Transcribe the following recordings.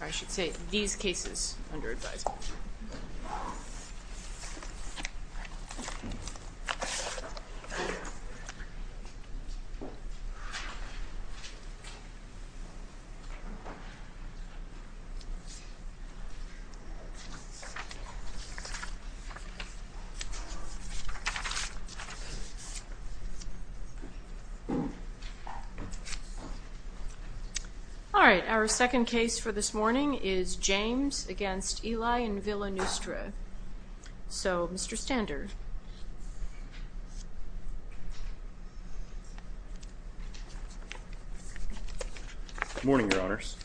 I should say, these cases under advisement. All right, our second case for this morning is James against Eli and Willa Neustra. So, Mr. Stander. Good morning, your honors.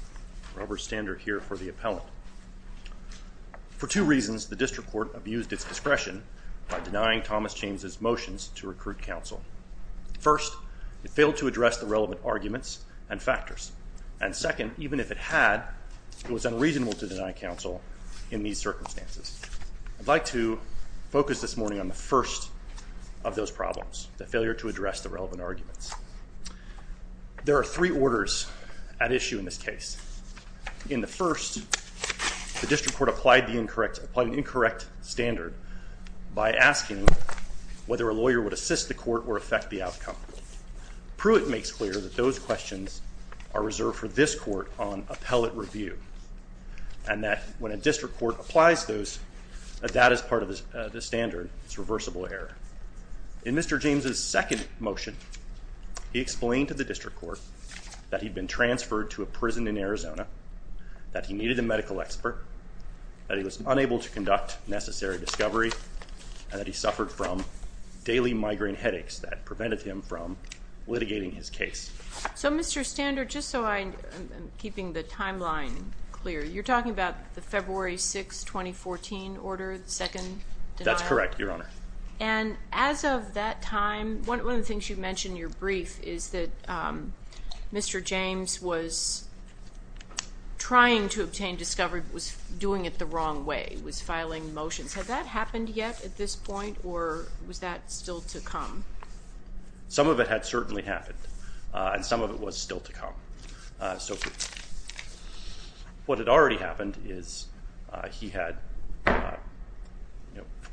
Robert Stander here for the appellate. For two reasons, the district court abused its discretion by denying Thomas James's motions to recruit counsel. First, it failed to address the relevant arguments and factors. And second, even if it had, it was unreasonable to deny counsel in these circumstances. I'd like to focus this morning on the first of those problems, the failure to address the relevant arguments. There are three orders at issue in this case. In the first, the district court applied an incorrect standard by asking whether a lawyer would assist the court or affect the outcome. Pruitt makes clear that those questions are reserved for this court on appellate review. And that when a district court applies those, that is part of the standard, it's reversible error. In Mr. James's second motion, he explained to the district court that he'd been transferred to a prison in Arizona, that he needed a medical expert, that he was unable to conduct necessary discovery, and that he suffered from daily migraine headaches that prevented him from litigating his case. So, Mr. Stander, just so I'm keeping the timeline clear, you're talking about the February 6, 2014 order, the second denial? That's correct, Your Honor. And as of that time, one of the things you mentioned in your brief is that Mr. James was trying to obtain discovery, but was doing it the wrong way, was filing motions. Had that happened yet at this point, or was that still to come? Some of it had certainly happened, and some of it was still to come. What had already happened is he had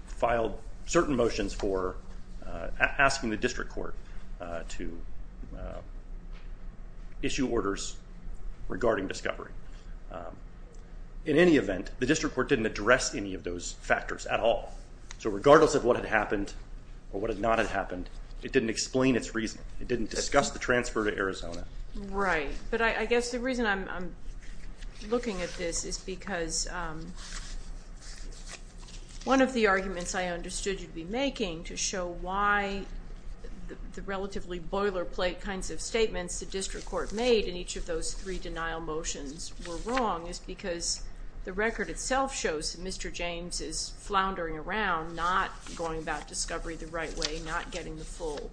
filed certain motions for asking the district court to issue orders regarding discovery. In any event, the district court didn't address any of those factors at all. So regardless of what had happened or what had not happened, it didn't explain its reasoning. It didn't discuss the transfer to Arizona. Right, but I guess the reason I'm looking at this is because one of the arguments I understood you'd be making to show why the relatively boilerplate kinds of statements the district court made in each of those three denial motions were wrong is because the record itself shows that Mr. James is floundering around, not going about discovery the right way, not getting the full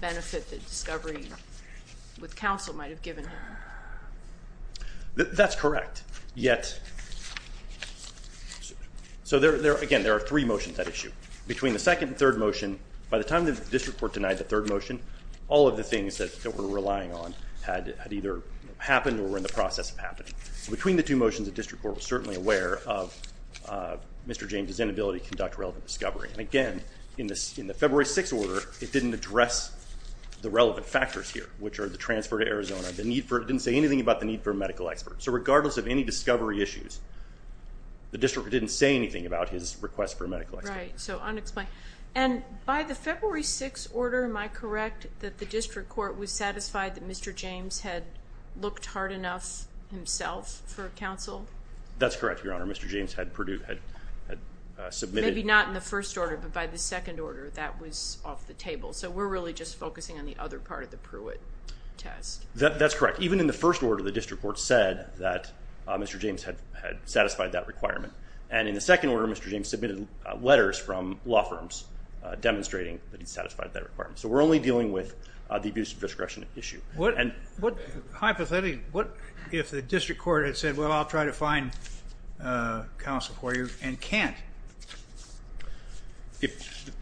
benefit that discovery with counsel might have given him. That's correct. Again, there are three motions at issue. Between the second and third motion, by the time the district court denied the third motion, all of the things that we're relying on had either happened or were in the process of happening. Between the two motions, the district court was certainly aware of Mr. James' inability to conduct relevant discovery. And again, in the February 6th order, it didn't address the relevant factors here, which are the transfer to Arizona. It didn't say anything about the need for a medical expert. So regardless of any discovery issues, the district didn't say anything about his request for a medical expert. Right, so unexplained. And by the February 6th order, am I correct that the district court was satisfied that Mr. James had looked hard enough himself for counsel? That's correct, Your Honor. Maybe not in the first order, but by the second order, that was off the table. So we're really just focusing on the other part of the Pruitt test. That's correct. Even in the first order, the district court said that Mr. James had satisfied that requirement. And in the second order, Mr. James submitted letters from law firms demonstrating that he satisfied that requirement. So we're only dealing with the abuse of discretion issue. Hypothetically, if the district court had said, well, I'll try to find counsel for you and can't,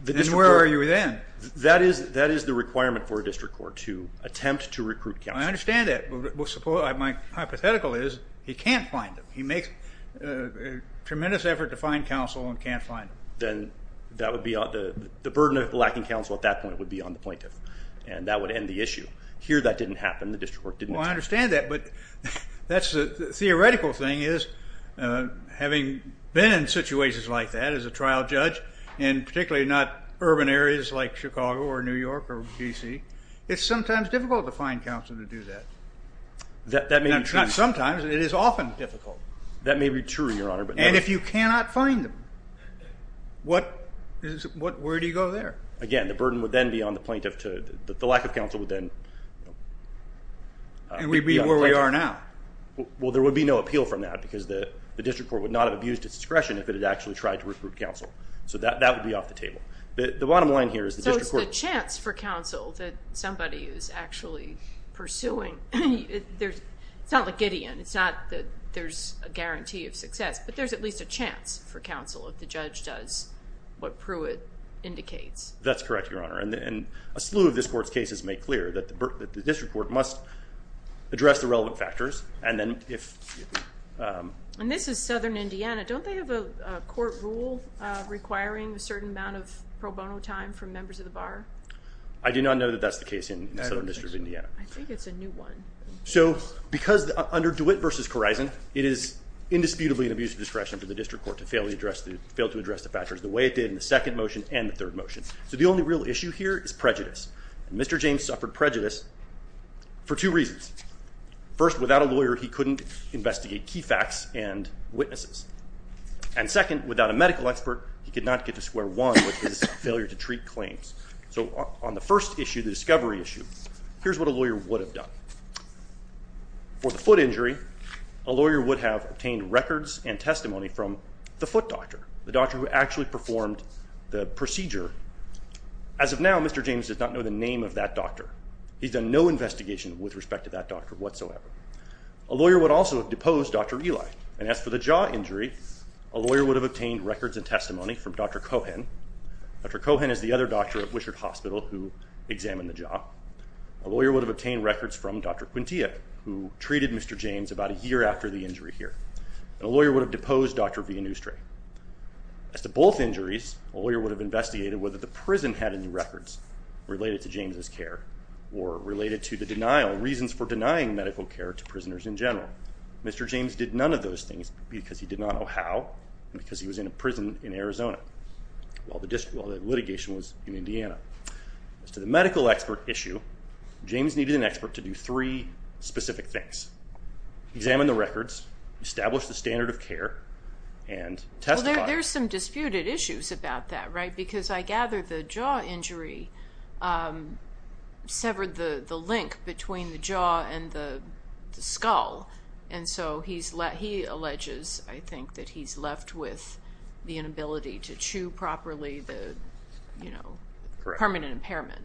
then where are you then? That is the requirement for a district court to attempt to recruit counsel. I understand that. But my hypothetical is he can't find him. He makes a tremendous effort to find counsel and can't find him. Then the burden of lacking counsel at that point would be on the plaintiff, and that would end the issue. Here that didn't happen. The district court didn't. Well, I understand that, but that's the theoretical thing is having been in situations like that as a trial judge, and particularly not urban areas like Chicago or New York or D.C., it's sometimes difficult to find counsel to do that. That may be true. Not sometimes. It is often difficult. That may be true, Your Honor. And if you cannot find them, where do you go there? Again, the burden would then be on the plaintiff. The lack of counsel would then be on the plaintiff. And we'd be where we are now. Well, there would be no appeal from that because the district court would not have abused its discretion if it had actually tried to recruit counsel. So that would be off the table. The bottom line here is the district court. So it's the chance for counsel that somebody is actually pursuing. It's not like Gideon. It's not that there's a guarantee of success. But there's at least a chance for counsel if the judge does what Pruitt indicates. That's correct, Your Honor. And a slew of this Court's cases make clear that the district court must address the relevant factors. And this is southern Indiana. Don't they have a court rule requiring a certain amount of pro bono time for members of the bar? I do not know that that's the case in the southern district of Indiana. I think it's a new one. So because under DeWitt v. Korizon, it is indisputably an abuse of discretion for the district court to fail to address the factors the way it did in the second motion and the third motion. So the only real issue here is prejudice. And Mr. James suffered prejudice for two reasons. First, without a lawyer, he couldn't investigate key facts and witnesses. And second, without a medical expert, he could not get to square one, which is his failure to treat claims. So on the first issue, the discovery issue, here's what a lawyer would have done. For the foot injury, a lawyer would have obtained records and testimony from the foot doctor, the doctor who actually performed the procedure. As of now, Mr. James does not know the name of that doctor. He's done no investigation with respect to that doctor whatsoever. A lawyer would also have deposed Dr. Eli. And as for the jaw injury, a lawyer would have obtained records and testimony from Dr. Cohen. Dr. Cohen is the other doctor at Wishart Hospital who examined the jaw. A lawyer would have obtained records from Dr. Quintia, who treated Mr. James about a year after the injury here. And a lawyer would have deposed Dr. Villanustre. As to both injuries, a lawyer would have investigated whether the prison had any records related to James's care or related to the denial, reasons for denying medical care to prisoners in general. Mr. James did none of those things because he did not know how and because he was in a prison in Arizona while the litigation was in Indiana. As to the medical expert issue, James needed an expert to do three specific things. Examine the records, establish the standard of care, and testify. There are some disputed issues about that, right? Because I gather the jaw injury severed the link between the jaw and the skull. And so he alleges, I think, that he's left with the inability to chew properly the permanent impairment.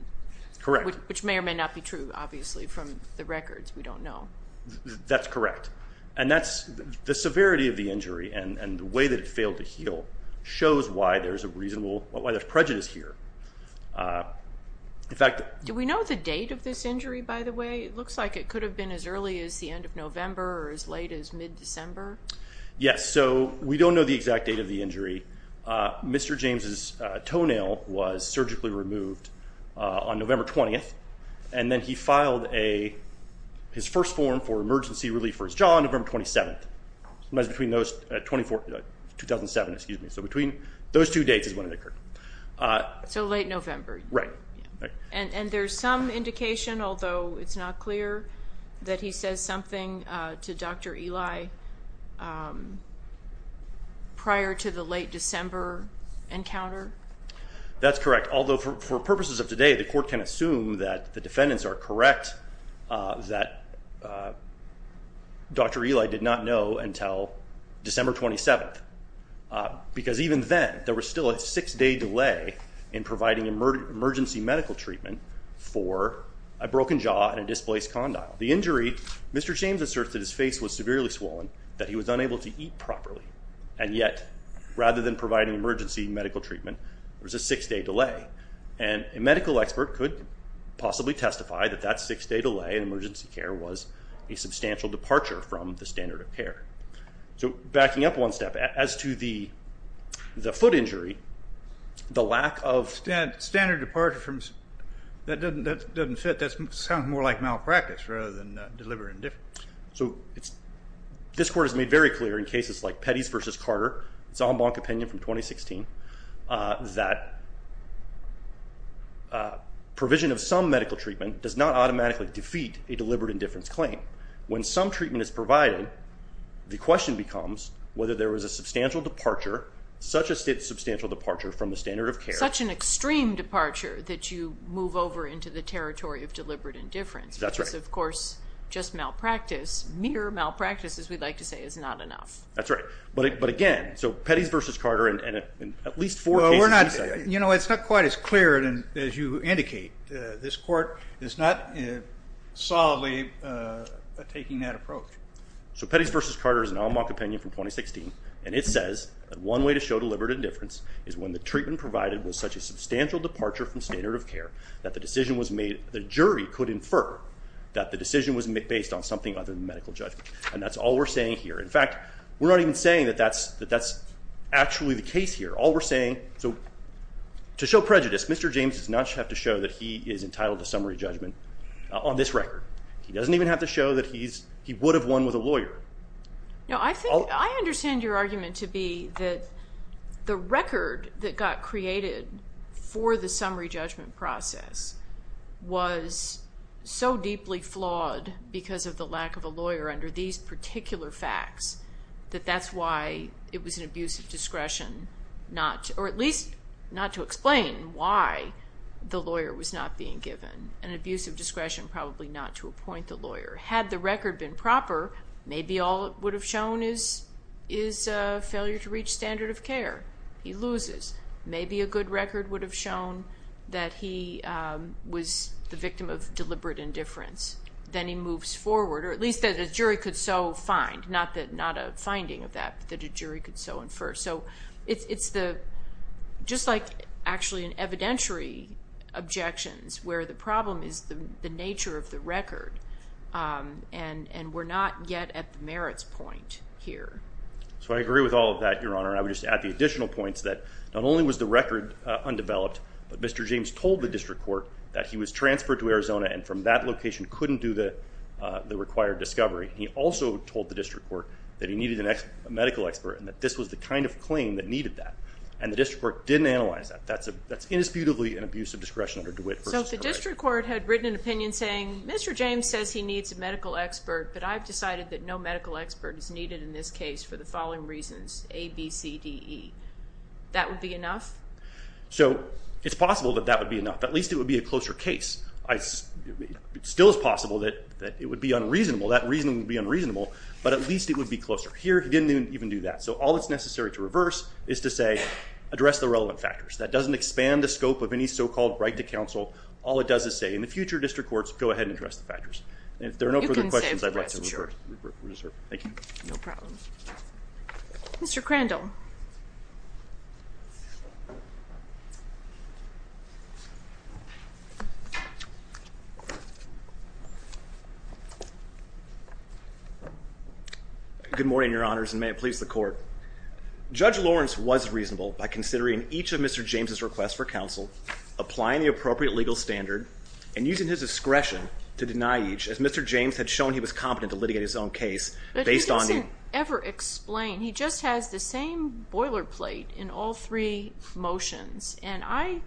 Correct. Which may or may not be true, obviously, from the records. We don't know. That's correct. And the severity of the injury and the way that it failed to heal shows why there's prejudice here. Do we know the date of this injury, by the way? It looks like it could have been as early as the end of November or as late as mid-December. Yes, so we don't know the exact date of the injury. Mr. James's toenail was surgically removed on November 20th, and then he filed his first form for emergency relief for his jaw on November 27th. It was between those two dates is when it occurred. So late November. Right. And there's some indication, although it's not clear, that he says something to Dr. Eli prior to the late December encounter? That's correct, although for purposes of today, the court can assume that the defendants are correct that Dr. Eli did not know until December 27th, because even then there was still a six-day delay in providing emergency medical treatment for a broken jaw and a displaced condyle. The injury, Mr. James asserts that his face was severely swollen, that he was unable to eat properly, and yet rather than providing emergency medical treatment, there was a six-day delay. And a medical expert could possibly testify that that six-day delay in emergency care was a substantial departure from the standard of care. So backing up one step. As to the foot injury, the lack of standard departure, that doesn't fit. That sounds more like malpractice rather than deliberate indifference. So this court has made very clear in cases like Petty's v. Carter, its en banc opinion from 2016, that provision of some medical treatment does not automatically defeat a deliberate indifference claim. When some treatment is provided, the question becomes whether there was a substantial departure, such a substantial departure from the standard of care. Such an extreme departure that you move over into the territory of deliberate indifference. That's right. Which is, of course, just malpractice, mere malpractice as we like to say is not enough. That's right. But again, so Petty's v. Carter and at least four cases. You know, it's not quite as clear as you indicate. This court is not solidly taking that approach. So Petty's v. Carter is an en banc opinion from 2016, and it says that one way to show deliberate indifference is when the treatment provided was such a substantial departure from standard of care that the decision was made, the jury could infer that the decision was based on something other than medical judgment. And that's all we're saying here. In fact, we're not even saying that that's actually the case here. All we're saying, so to show prejudice, Mr. James does not have to show that he is entitled to summary judgment on this record. He doesn't even have to show that he would have won with a lawyer. No, I think I understand your argument to be that the record that got created for the summary judgment process was so deeply flawed because of the lack of a lawyer under these particular facts that that's why it was an abuse of discretion, or at least not to explain why the lawyer was not being given, an abuse of discretion probably not to appoint the lawyer. Had the record been proper, maybe all it would have shown is a failure to reach standard of care. He loses. Maybe a good record would have shown that he was the victim of deliberate indifference. Then he moves forward, or at least that a jury could so find. Not a finding of that, but that a jury could so infer. So it's just like actually an evidentiary objections where the problem is the nature of the record. And we're not yet at the merits point here. So I agree with all of that, Your Honor. I would just add the additional points that not only was the record undeveloped, but Mr. James told the district court that he was transferred to Arizona and from that location couldn't do the required discovery. He also told the district court that he needed a medical expert and that this was the kind of claim that needed that, and the district court didn't analyze that. That's indisputably an abuse of discretion under DeWitt v. Correia. So if the district court had written an opinion saying, Mr. James says he needs a medical expert, but I've decided that no medical expert is needed in this case for the following reasons, A, B, C, D, E, that would be enough? So it's possible that that would be enough. At least it would be a closer case. It still is possible that it would be unreasonable. That reasoning would be unreasonable, but at least it would be closer. Here he didn't even do that. So all that's necessary to reverse is to say address the relevant factors. That doesn't expand the scope of any so-called right to counsel. All it does is say in the future district courts, go ahead and address the factors. And if there are no further questions, I'd like to reserve. Thank you. No problem. Mr. Crandall. Good morning, Your Honors, and may it please the court. Judge Lawrence was reasonable by considering each of Mr. James' requests for counsel, applying the appropriate legal standard, and using his discretion to deny each, as Mr. James had shown he was competent to litigate his own case based on the He just has the same boilerplate in all three motions. And I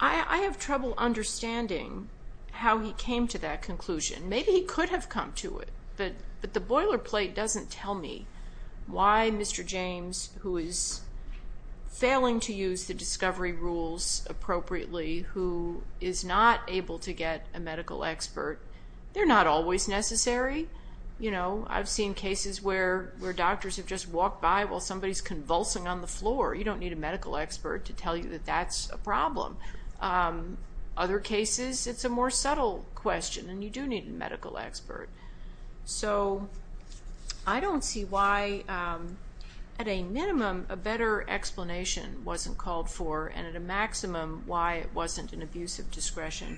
have trouble understanding how he came to that conclusion. Maybe he could have come to it, but the boilerplate doesn't tell me why Mr. James, who is failing to use the discovery rules appropriately, who is not able to get a medical expert, they're not always necessary. I've seen cases where doctors have just walked by while somebody is convulsing on the floor. You don't need a medical expert to tell you that that's a problem. Other cases, it's a more subtle question, and you do need a medical expert. So I don't see why, at a minimum, a better explanation wasn't called for, and at a maximum, why it wasn't an abuse of discretion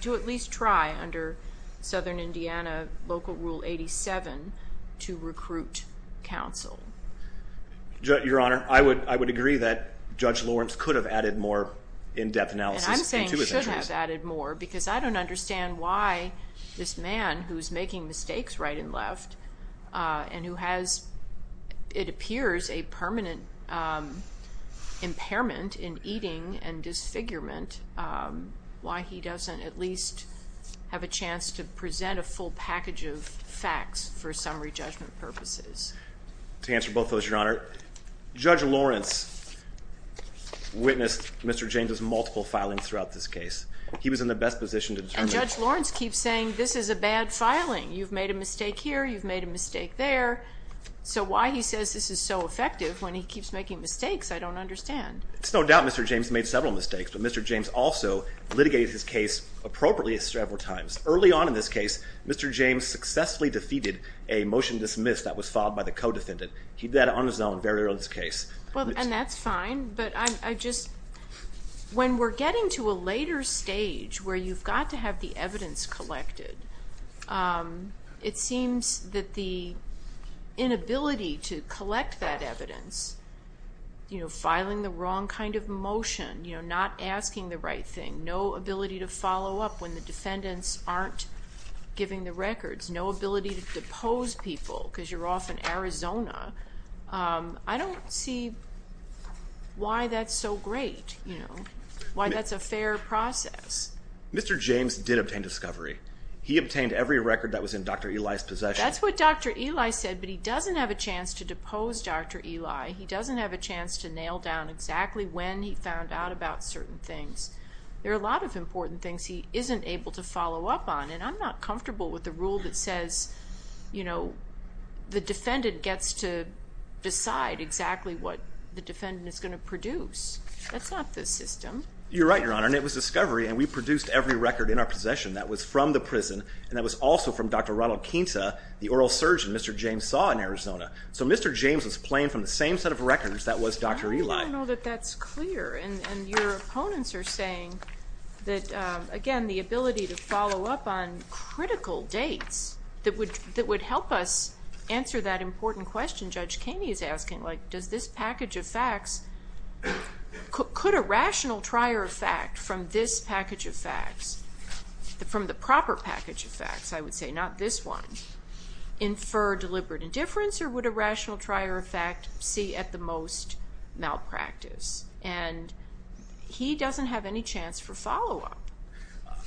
to at least try, under Southern Indiana Local Rule 87, to recruit counsel. Your Honor, I would agree that Judge Lawrence could have added more in-depth analysis. And I'm saying should have added more, because I don't understand why this man, who is making mistakes right and left, and who has, it appears, a permanent impairment in eating and disfigurement, why he doesn't at least have a chance to present a full package of facts for summary judgment purposes. To answer both of those, Your Honor, Judge Lawrence witnessed Mr. James's multiple filings throughout this case. He was in the best position to determine... And Judge Lawrence keeps saying, this is a bad filing. You've made a mistake here, you've made a mistake there. So why he says this is so effective when he keeps making mistakes, I don't understand. It's no doubt Mr. James made several mistakes, but Mr. James also litigated his case appropriately several times. Early on in this case, Mr. James successfully defeated a motion dismissed that was filed by the co-defendant. He did that on his own very early on in this case. And that's fine, but I just... When we're getting to a later stage where you've got to have the evidence collected, it seems that the inability to collect that evidence, filing the wrong kind of motion, not asking the right thing, no ability to follow up when the defendants aren't giving the records, no ability to depose people because you're off in Arizona, I don't see why that's so great, why that's a fair process. Mr. James did obtain discovery. He obtained every record that was in Dr. Eli's possession. That's what Dr. Eli said, but he doesn't have a chance to depose Dr. Eli. He doesn't have a chance to nail down exactly when he found out about certain things. There are a lot of important things he isn't able to follow up on, and I'm not comfortable with the rule that says, you know, the defendant gets to decide exactly what the defendant is going to produce. That's not the system. You're right, Your Honor, and it was discovery, and we produced every record in our possession that was from the prison, and that was also from Dr. Ronald Quinta, the oral surgeon Mr. James saw in Arizona. So Mr. James was playing from the same set of records that was Dr. Eli. I don't even know that that's clear, and your opponents are saying that, again, the ability to follow up on critical dates that would help us answer that important question. Judge Kaney is asking, like, does this package of facts, could a rational trier of fact from this package of facts, from the proper package of facts, I would say, not this one, infer deliberate indifference, or would a rational trier of fact see at the most malpractice? And he doesn't have any chance for follow-up.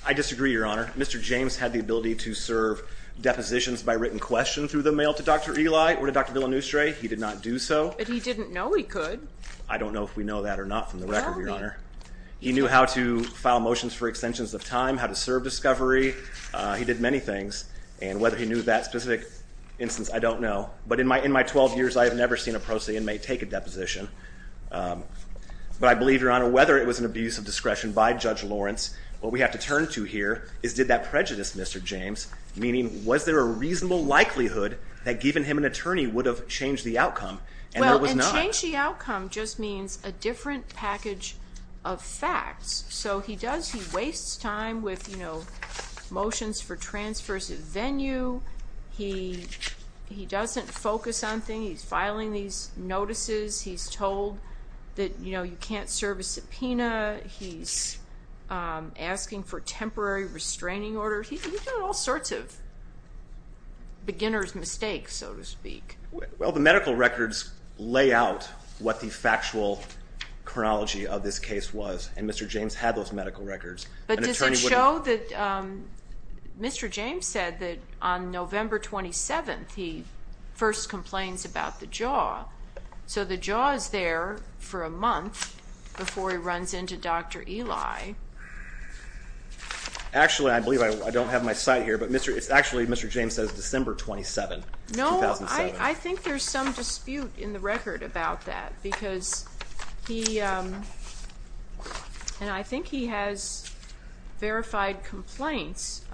I disagree, Your Honor. Mr. James had the ability to serve depositions by written question through the mail to Dr. Eli or to Dr. Villanustre. He did not do so. But he didn't know he could. I don't know if we know that or not from the record, Your Honor. He knew how to file motions for extensions of time, how to serve discovery. He did many things. And whether he knew that specific instance, I don't know. But in my 12 years, I have never seen a pro se inmate take a deposition. But I believe, Your Honor, whether it was an abuse of discretion by Judge Lawrence, what we have to turn to here is did that prejudice Mr. James, meaning was there a reasonable likelihood that giving him an attorney would have changed the outcome? And there was not. Change the outcome just means a different package of facts. So he does, he wastes time with, you know, motions for transfers of venue. He doesn't focus on things. He's filing these notices. He's told that, you know, you can't serve a subpoena. He's asking for temporary restraining order. He's done all sorts of beginner's mistakes, so to speak. Well, the medical records lay out what the factual chronology of this case was, and Mr. James had those medical records. But does it show that Mr. James said that on November 27th he first complains about the jaw. So the jaw is there for a month before he runs into Dr. Eli. Actually, I believe I don't have my site here, but actually Mr. James says December 27th, 2007. No, I think there's some dispute in the record about that because he, and I think he has verified complaints.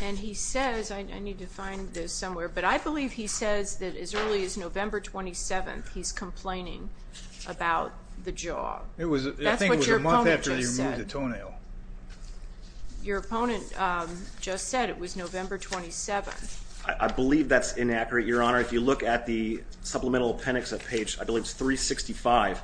And he says, I need to find this somewhere, but I believe he says that as early as November 27th he's complaining about the jaw. That's what your opponent just said. I think it was a month after he removed the toenail. Your opponent just said it was November 27th. I believe that's inaccurate, Your Honor. If you look at the supplemental appendix of page, I believe it's 365,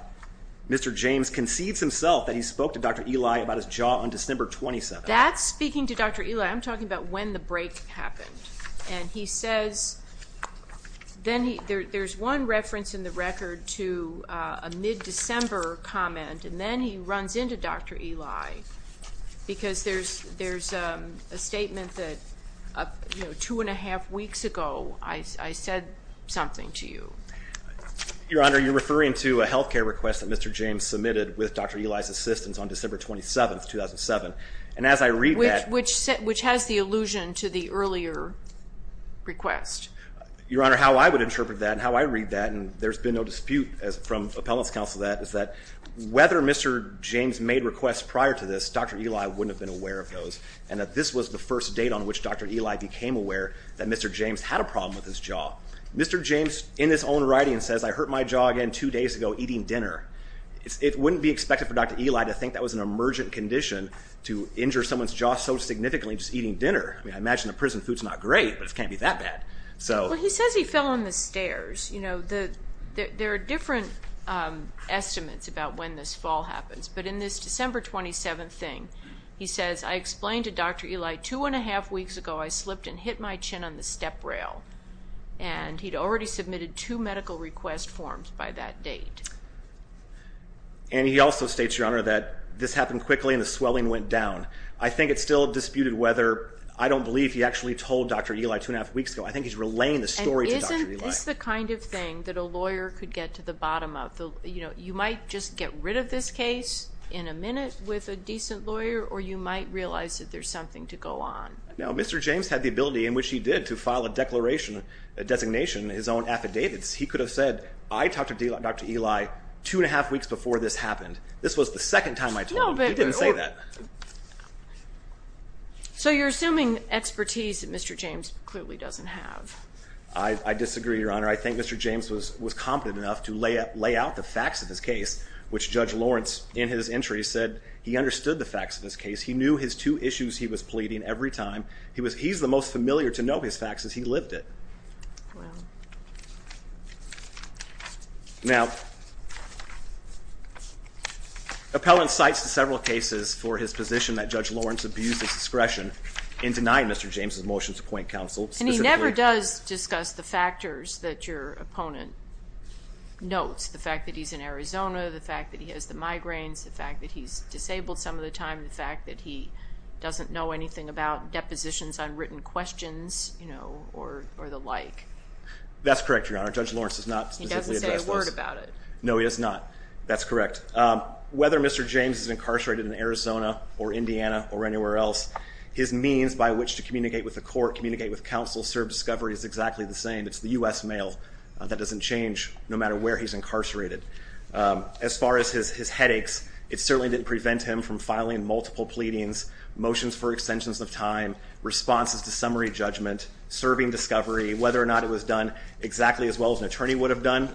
Mr. James concedes himself that he spoke to Dr. Eli about his jaw on December 27th. That's speaking to Dr. Eli. I'm talking about when the break happened. And he says, there's one reference in the record to a mid-December comment, and then he runs into Dr. Eli because there's a statement that two and a half weeks ago I said something to you. Your Honor, you're referring to a health care request that Mr. James submitted with Dr. Eli's assistance on December 27th, 2007. And as I read that. Which has the allusion to the earlier request. Your Honor, how I would interpret that and how I read that, and there's been no dispute from appellant's counsel that, is that whether Mr. James made requests prior to this, Dr. Eli wouldn't have been aware of those. And that this was the first date on which Dr. Eli became aware that Mr. James had a problem with his jaw. Mr. James, in his own writing, says, I hurt my jaw again two days ago eating dinner. It wouldn't be expected for Dr. Eli to think that was an emergent condition to injure someone's jaw so significantly just eating dinner. I mean, I imagine the prison food's not great, but it can't be that bad. Well, he says he fell on the stairs. There are different estimates about when this fall happens. But in this December 27th thing, he says, I explained to Dr. Eli two and a half weeks ago I slipped and hit my chin on the step rail. And he'd already submitted two medical request forms by that date. And he also states, Your Honor, that this happened quickly and the swelling went down. I think it's still disputed whether, I don't believe he actually told Dr. Eli two and a half weeks ago. I think he's relaying the story to Dr. Eli. And isn't this the kind of thing that a lawyer could get to the bottom of? You might just get rid of this case in a minute with a decent lawyer, or you might realize that there's something to go on. Now, Mr. James had the ability, in which he did, to file a declaration, a designation, his own affidavits. He could have said, I talked to Dr. Eli two and a half weeks before this happened. This was the second time I told him. He didn't say that. So you're assuming expertise that Mr. James clearly doesn't have. I disagree, Your Honor. I think Mr. James was competent enough to lay out the facts of his case, which Judge Lawrence, in his entry, said he understood the facts of his case. He knew his two issues he was pleading every time. He's the most familiar to know his facts as he lived it. Wow. Now, appellant cites several cases for his position that Judge Lawrence abused his discretion in denying Mr. James' motion to appoint counsel. And he never does discuss the factors that your opponent notes, the fact that he's in Arizona, the fact that he has the migraines, the fact that he's disabled some of the time, the fact that he doesn't know anything about depositions on written questions or the like. That's correct, Your Honor. Judge Lawrence does not specifically address those. He doesn't say a word about it. No, he does not. That's correct. Whether Mr. James is incarcerated in Arizona or Indiana or anywhere else, his means by which to communicate with the court, communicate with counsel, serve discovery is exactly the same. It's the U.S. mail. That doesn't change no matter where he's incarcerated. As far as his headaches, it certainly didn't prevent him from filing multiple pleadings, motions for extensions of time, responses to summary judgment, serving discovery. Whether or not it was done exactly as well as an attorney would have done,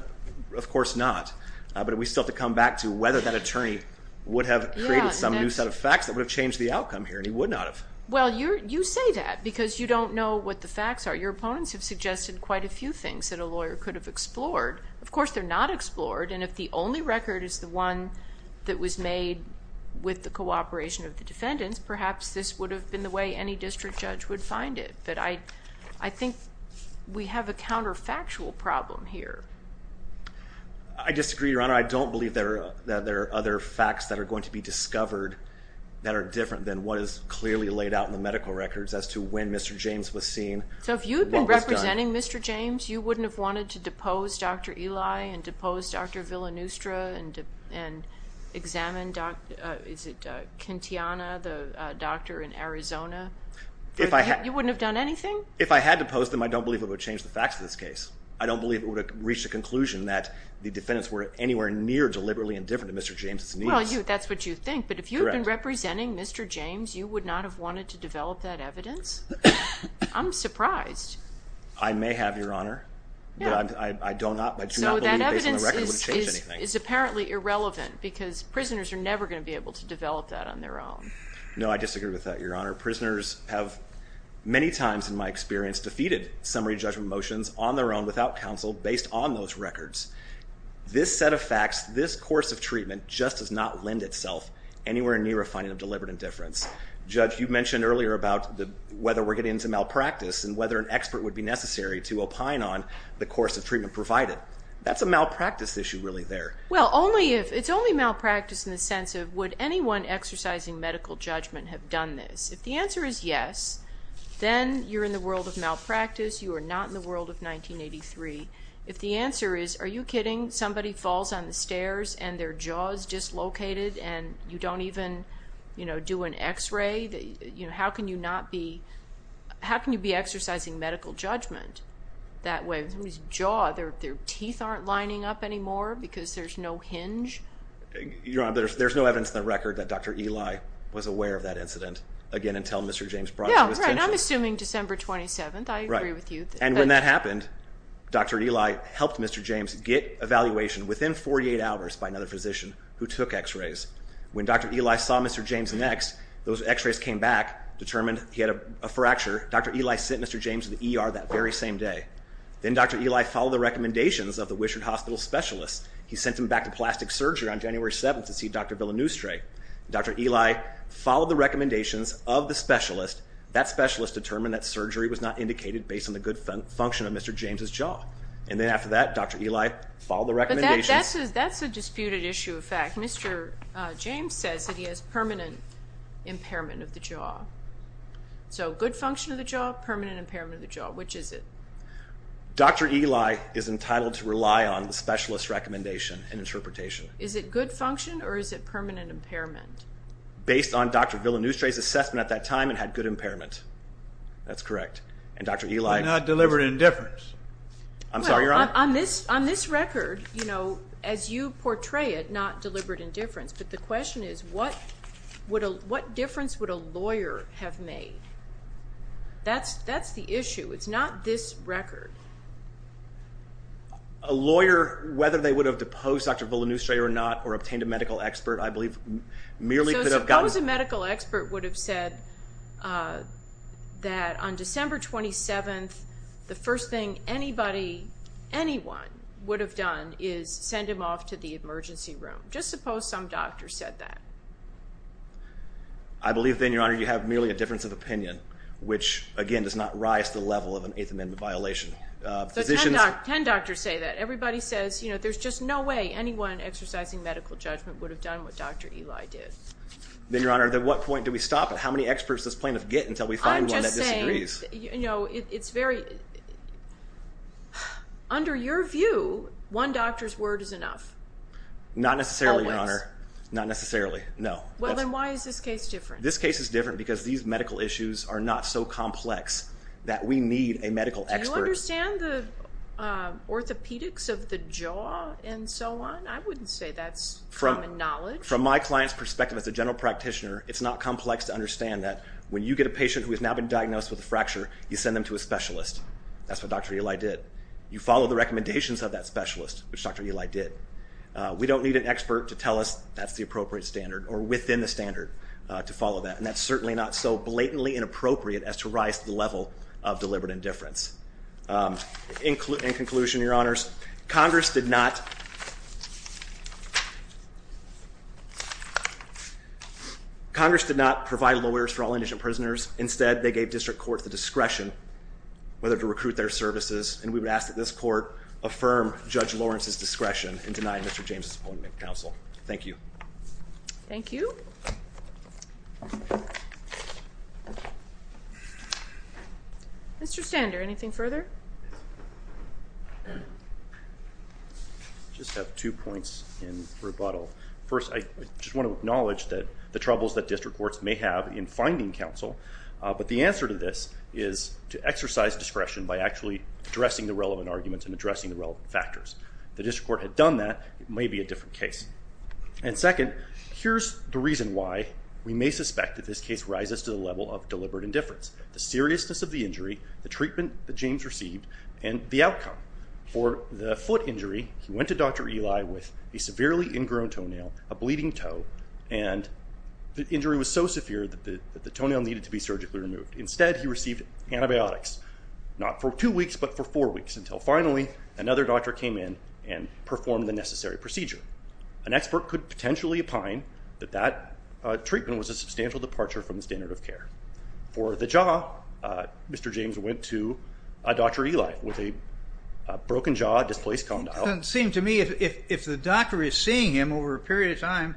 of course not. But we still have to come back to whether that attorney would have created some new set of facts that would have changed the outcome here, and he would not have. Well, you say that because you don't know what the facts are. Your opponents have suggested quite a few things that a lawyer could have explored. Of course, they're not explored, and if the only record is the one that was made with the cooperation of the defendants, perhaps this would have been the way any district judge would find it. But I think we have a counterfactual problem here. I disagree, Your Honor. I don't believe that there are other facts that are going to be discovered that are different than what is clearly laid out in the medical records as to when Mr. James was seen, what was done. So if you had been representing Mr. James, you wouldn't have wanted to depose Dr. Eli and depose Dr. Villanustra and examine, is it, Kentiana, the doctor in Arizona? You wouldn't have done anything? If I had deposed them, I don't believe it would have changed the facts of this case. I don't believe it would have reached a conclusion that the defendants were anywhere near deliberately indifferent to Mr. James' needs. Well, that's what you think, but if you had been representing Mr. James, you would not have wanted to develop that evidence? I'm surprised. I may have, Your Honor. I do not believe based on the record it would have changed anything. So that evidence is apparently irrelevant because prisoners are never going to be able to develop that on their own. No, I disagree with that, Your Honor. Prisoners have many times in my experience defeated summary judgment motions on their own without counsel based on those records. This set of facts, this course of treatment just does not lend itself anywhere near a finding of deliberate indifference. Judge, you mentioned earlier about whether we're getting into malpractice and whether an expert would be necessary to opine on the course of treatment provided. That's a malpractice issue really there. Well, it's only malpractice in the sense of would anyone exercising medical judgment have done this? If the answer is yes, then you're in the world of malpractice. You are not in the world of 1983. If the answer is, are you kidding? Somebody falls on the stairs and their jaw is dislocated and you don't even do an x-ray, how can you not be exercising medical judgment that way? Somebody's jaw, their teeth aren't lining up anymore because there's no hinge? Your Honor, there's no evidence in the record that Dr. Eli was aware of that incident, again, until Mr. James brought it to his attention. Yeah, right, I'm assuming December 27th. I agree with you. And when that happened, Dr. Eli helped Mr. James get evaluation within 48 hours by another physician who took x-rays. When Dr. Eli saw Mr. James next, those x-rays came back, determined he had a fracture. Dr. Eli sent Mr. James to the ER that very same day. Then Dr. Eli followed the recommendations of the Wishard Hospital specialist. He sent him back to plastic surgery on January 7th to see Dr. Villanustre. Dr. Eli followed the recommendations of the specialist. That specialist determined that surgery was not indicated based on the good function of Mr. James' jaw. And then after that, Dr. Eli followed the recommendations. But that's a disputed issue of fact. Mr. James says that he has permanent impairment of the jaw. So good function of the jaw, permanent impairment of the jaw. Which is it? Dr. Eli is entitled to rely on the specialist's recommendation and interpretation. Is it good function or is it permanent impairment? Based on Dr. Villanustre's assessment at that time, it had good impairment. That's correct. And Dr. Eli... But not deliberate indifference. I'm sorry, Your Honor. Well, on this record, you know, as you portray it, not deliberate indifference. But the question is what difference would a lawyer have made? That's the issue. It's not this record. A lawyer, whether they would have deposed Dr. Villanustre or not or obtained a medical expert, I believe merely could have gotten... So suppose a medical expert would have said that on December 27th, the first thing anybody, anyone would have done is send him off to the emergency room. Just suppose some doctor said that. I believe, then, Your Honor, you have merely a difference of opinion, which, again, does not rise to the level of an Eighth Amendment violation. Ten doctors say that. Everybody says, you know, there's just no way anyone exercising medical judgment would have done what Dr. Eli did. Then, Your Honor, at what point do we stop? How many experts does plaintiff get until we find one that disagrees? I'm just saying, you know, it's very... Under your view, one doctor's word is enough. Not necessarily, Your Honor. Always. Not necessarily, no. Well, then why is this case different? This case is different because these medical issues are not so complex that we need a medical expert. Do you understand the orthopedics of the jaw and so on? I wouldn't say that's common knowledge. From my client's perspective as a general practitioner, it's not complex to understand that when you get a patient who has now been diagnosed with a fracture, you send them to a specialist. That's what Dr. Eli did. You follow the recommendations of that specialist, which Dr. Eli did. We don't need an expert to tell us that's the appropriate standard or within the standard to follow that, and that's certainly not so blatantly inappropriate as to rise to the level of deliberate indifference. In conclusion, Your Honors, Congress did not provide lawyers for all indigent prisoners. Instead, they gave district courts the discretion whether to recruit their services, and we would ask that this court affirm Judge Lawrence's discretion in denying Mr. James' appointment to counsel. Thank you. Thank you. Mr. Stander, anything further? I just have two points in rebuttal. First, I just want to acknowledge the troubles that district courts may have in finding counsel, but the answer to this is to exercise discretion by actually addressing the relevant arguments and addressing the relevant factors. If the district court had done that, it may be a different case. And second, here's the reason why we may suspect that this case rises to the level of deliberate indifference, the seriousness of the injury, the treatment that James received, and the outcome. For the foot injury, he went to Dr. Eli with a severely ingrown toenail, a bleeding toe, and the injury was so severe that the toenail needed to be surgically removed. Instead, he received antibiotics, not for two weeks but for four weeks, until finally another doctor came in and performed the necessary procedure. An expert could potentially opine that that treatment was a substantial departure from the standard of care. For the jaw, Mr. James went to Dr. Eli with a broken jaw, displaced condyle. It doesn't seem to me if the doctor is seeing him over a period of time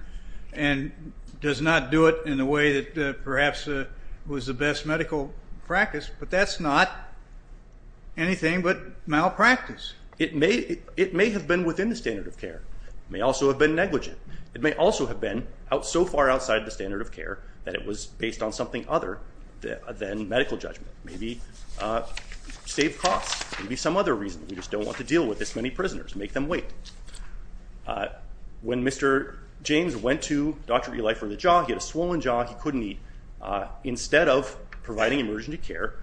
and does not do it in a way that perhaps was the best medical practice, but that's not anything but malpractice. It may have been within the standard of care. It may also have been negligent. It may also have been so far outside the standard of care that it was based on something other than medical judgment, maybe save costs, maybe some other reason. We just don't want to deal with this many prisoners, make them wait. When Mr. James went to Dr. Eli for the jaw, he had a swollen jaw, he couldn't eat. Instead of providing emergency care,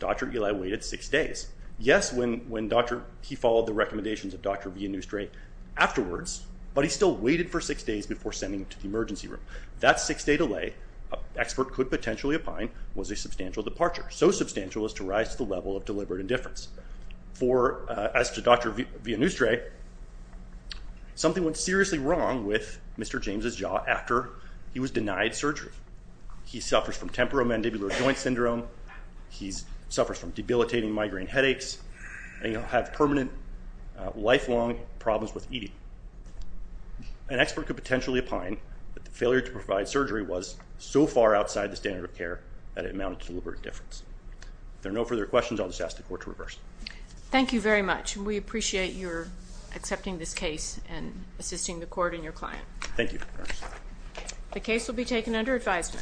Dr. Eli waited six days. Yes, he followed the recommendations of Dr. Villanustre afterwards, but he still waited for six days before sending him to the emergency room. That six-day delay, an expert could potentially opine, was a substantial departure, so substantial as to rise to the level of deliberate indifference. As to Dr. Villanustre, something went seriously wrong with Mr. James's jaw after he was denied surgery. He suffers from temporomandibular joint syndrome, he suffers from debilitating migraine headaches, and he'll have permanent, lifelong problems with eating. An expert could potentially opine that the failure to provide surgery was so far outside the standard of care that it amounted to deliberate indifference. If there are no further questions, I'll just ask the Court to reverse. Thank you very much, and we appreciate your accepting this case and assisting the Court and your client. Thank you. The case will be taken under advisement.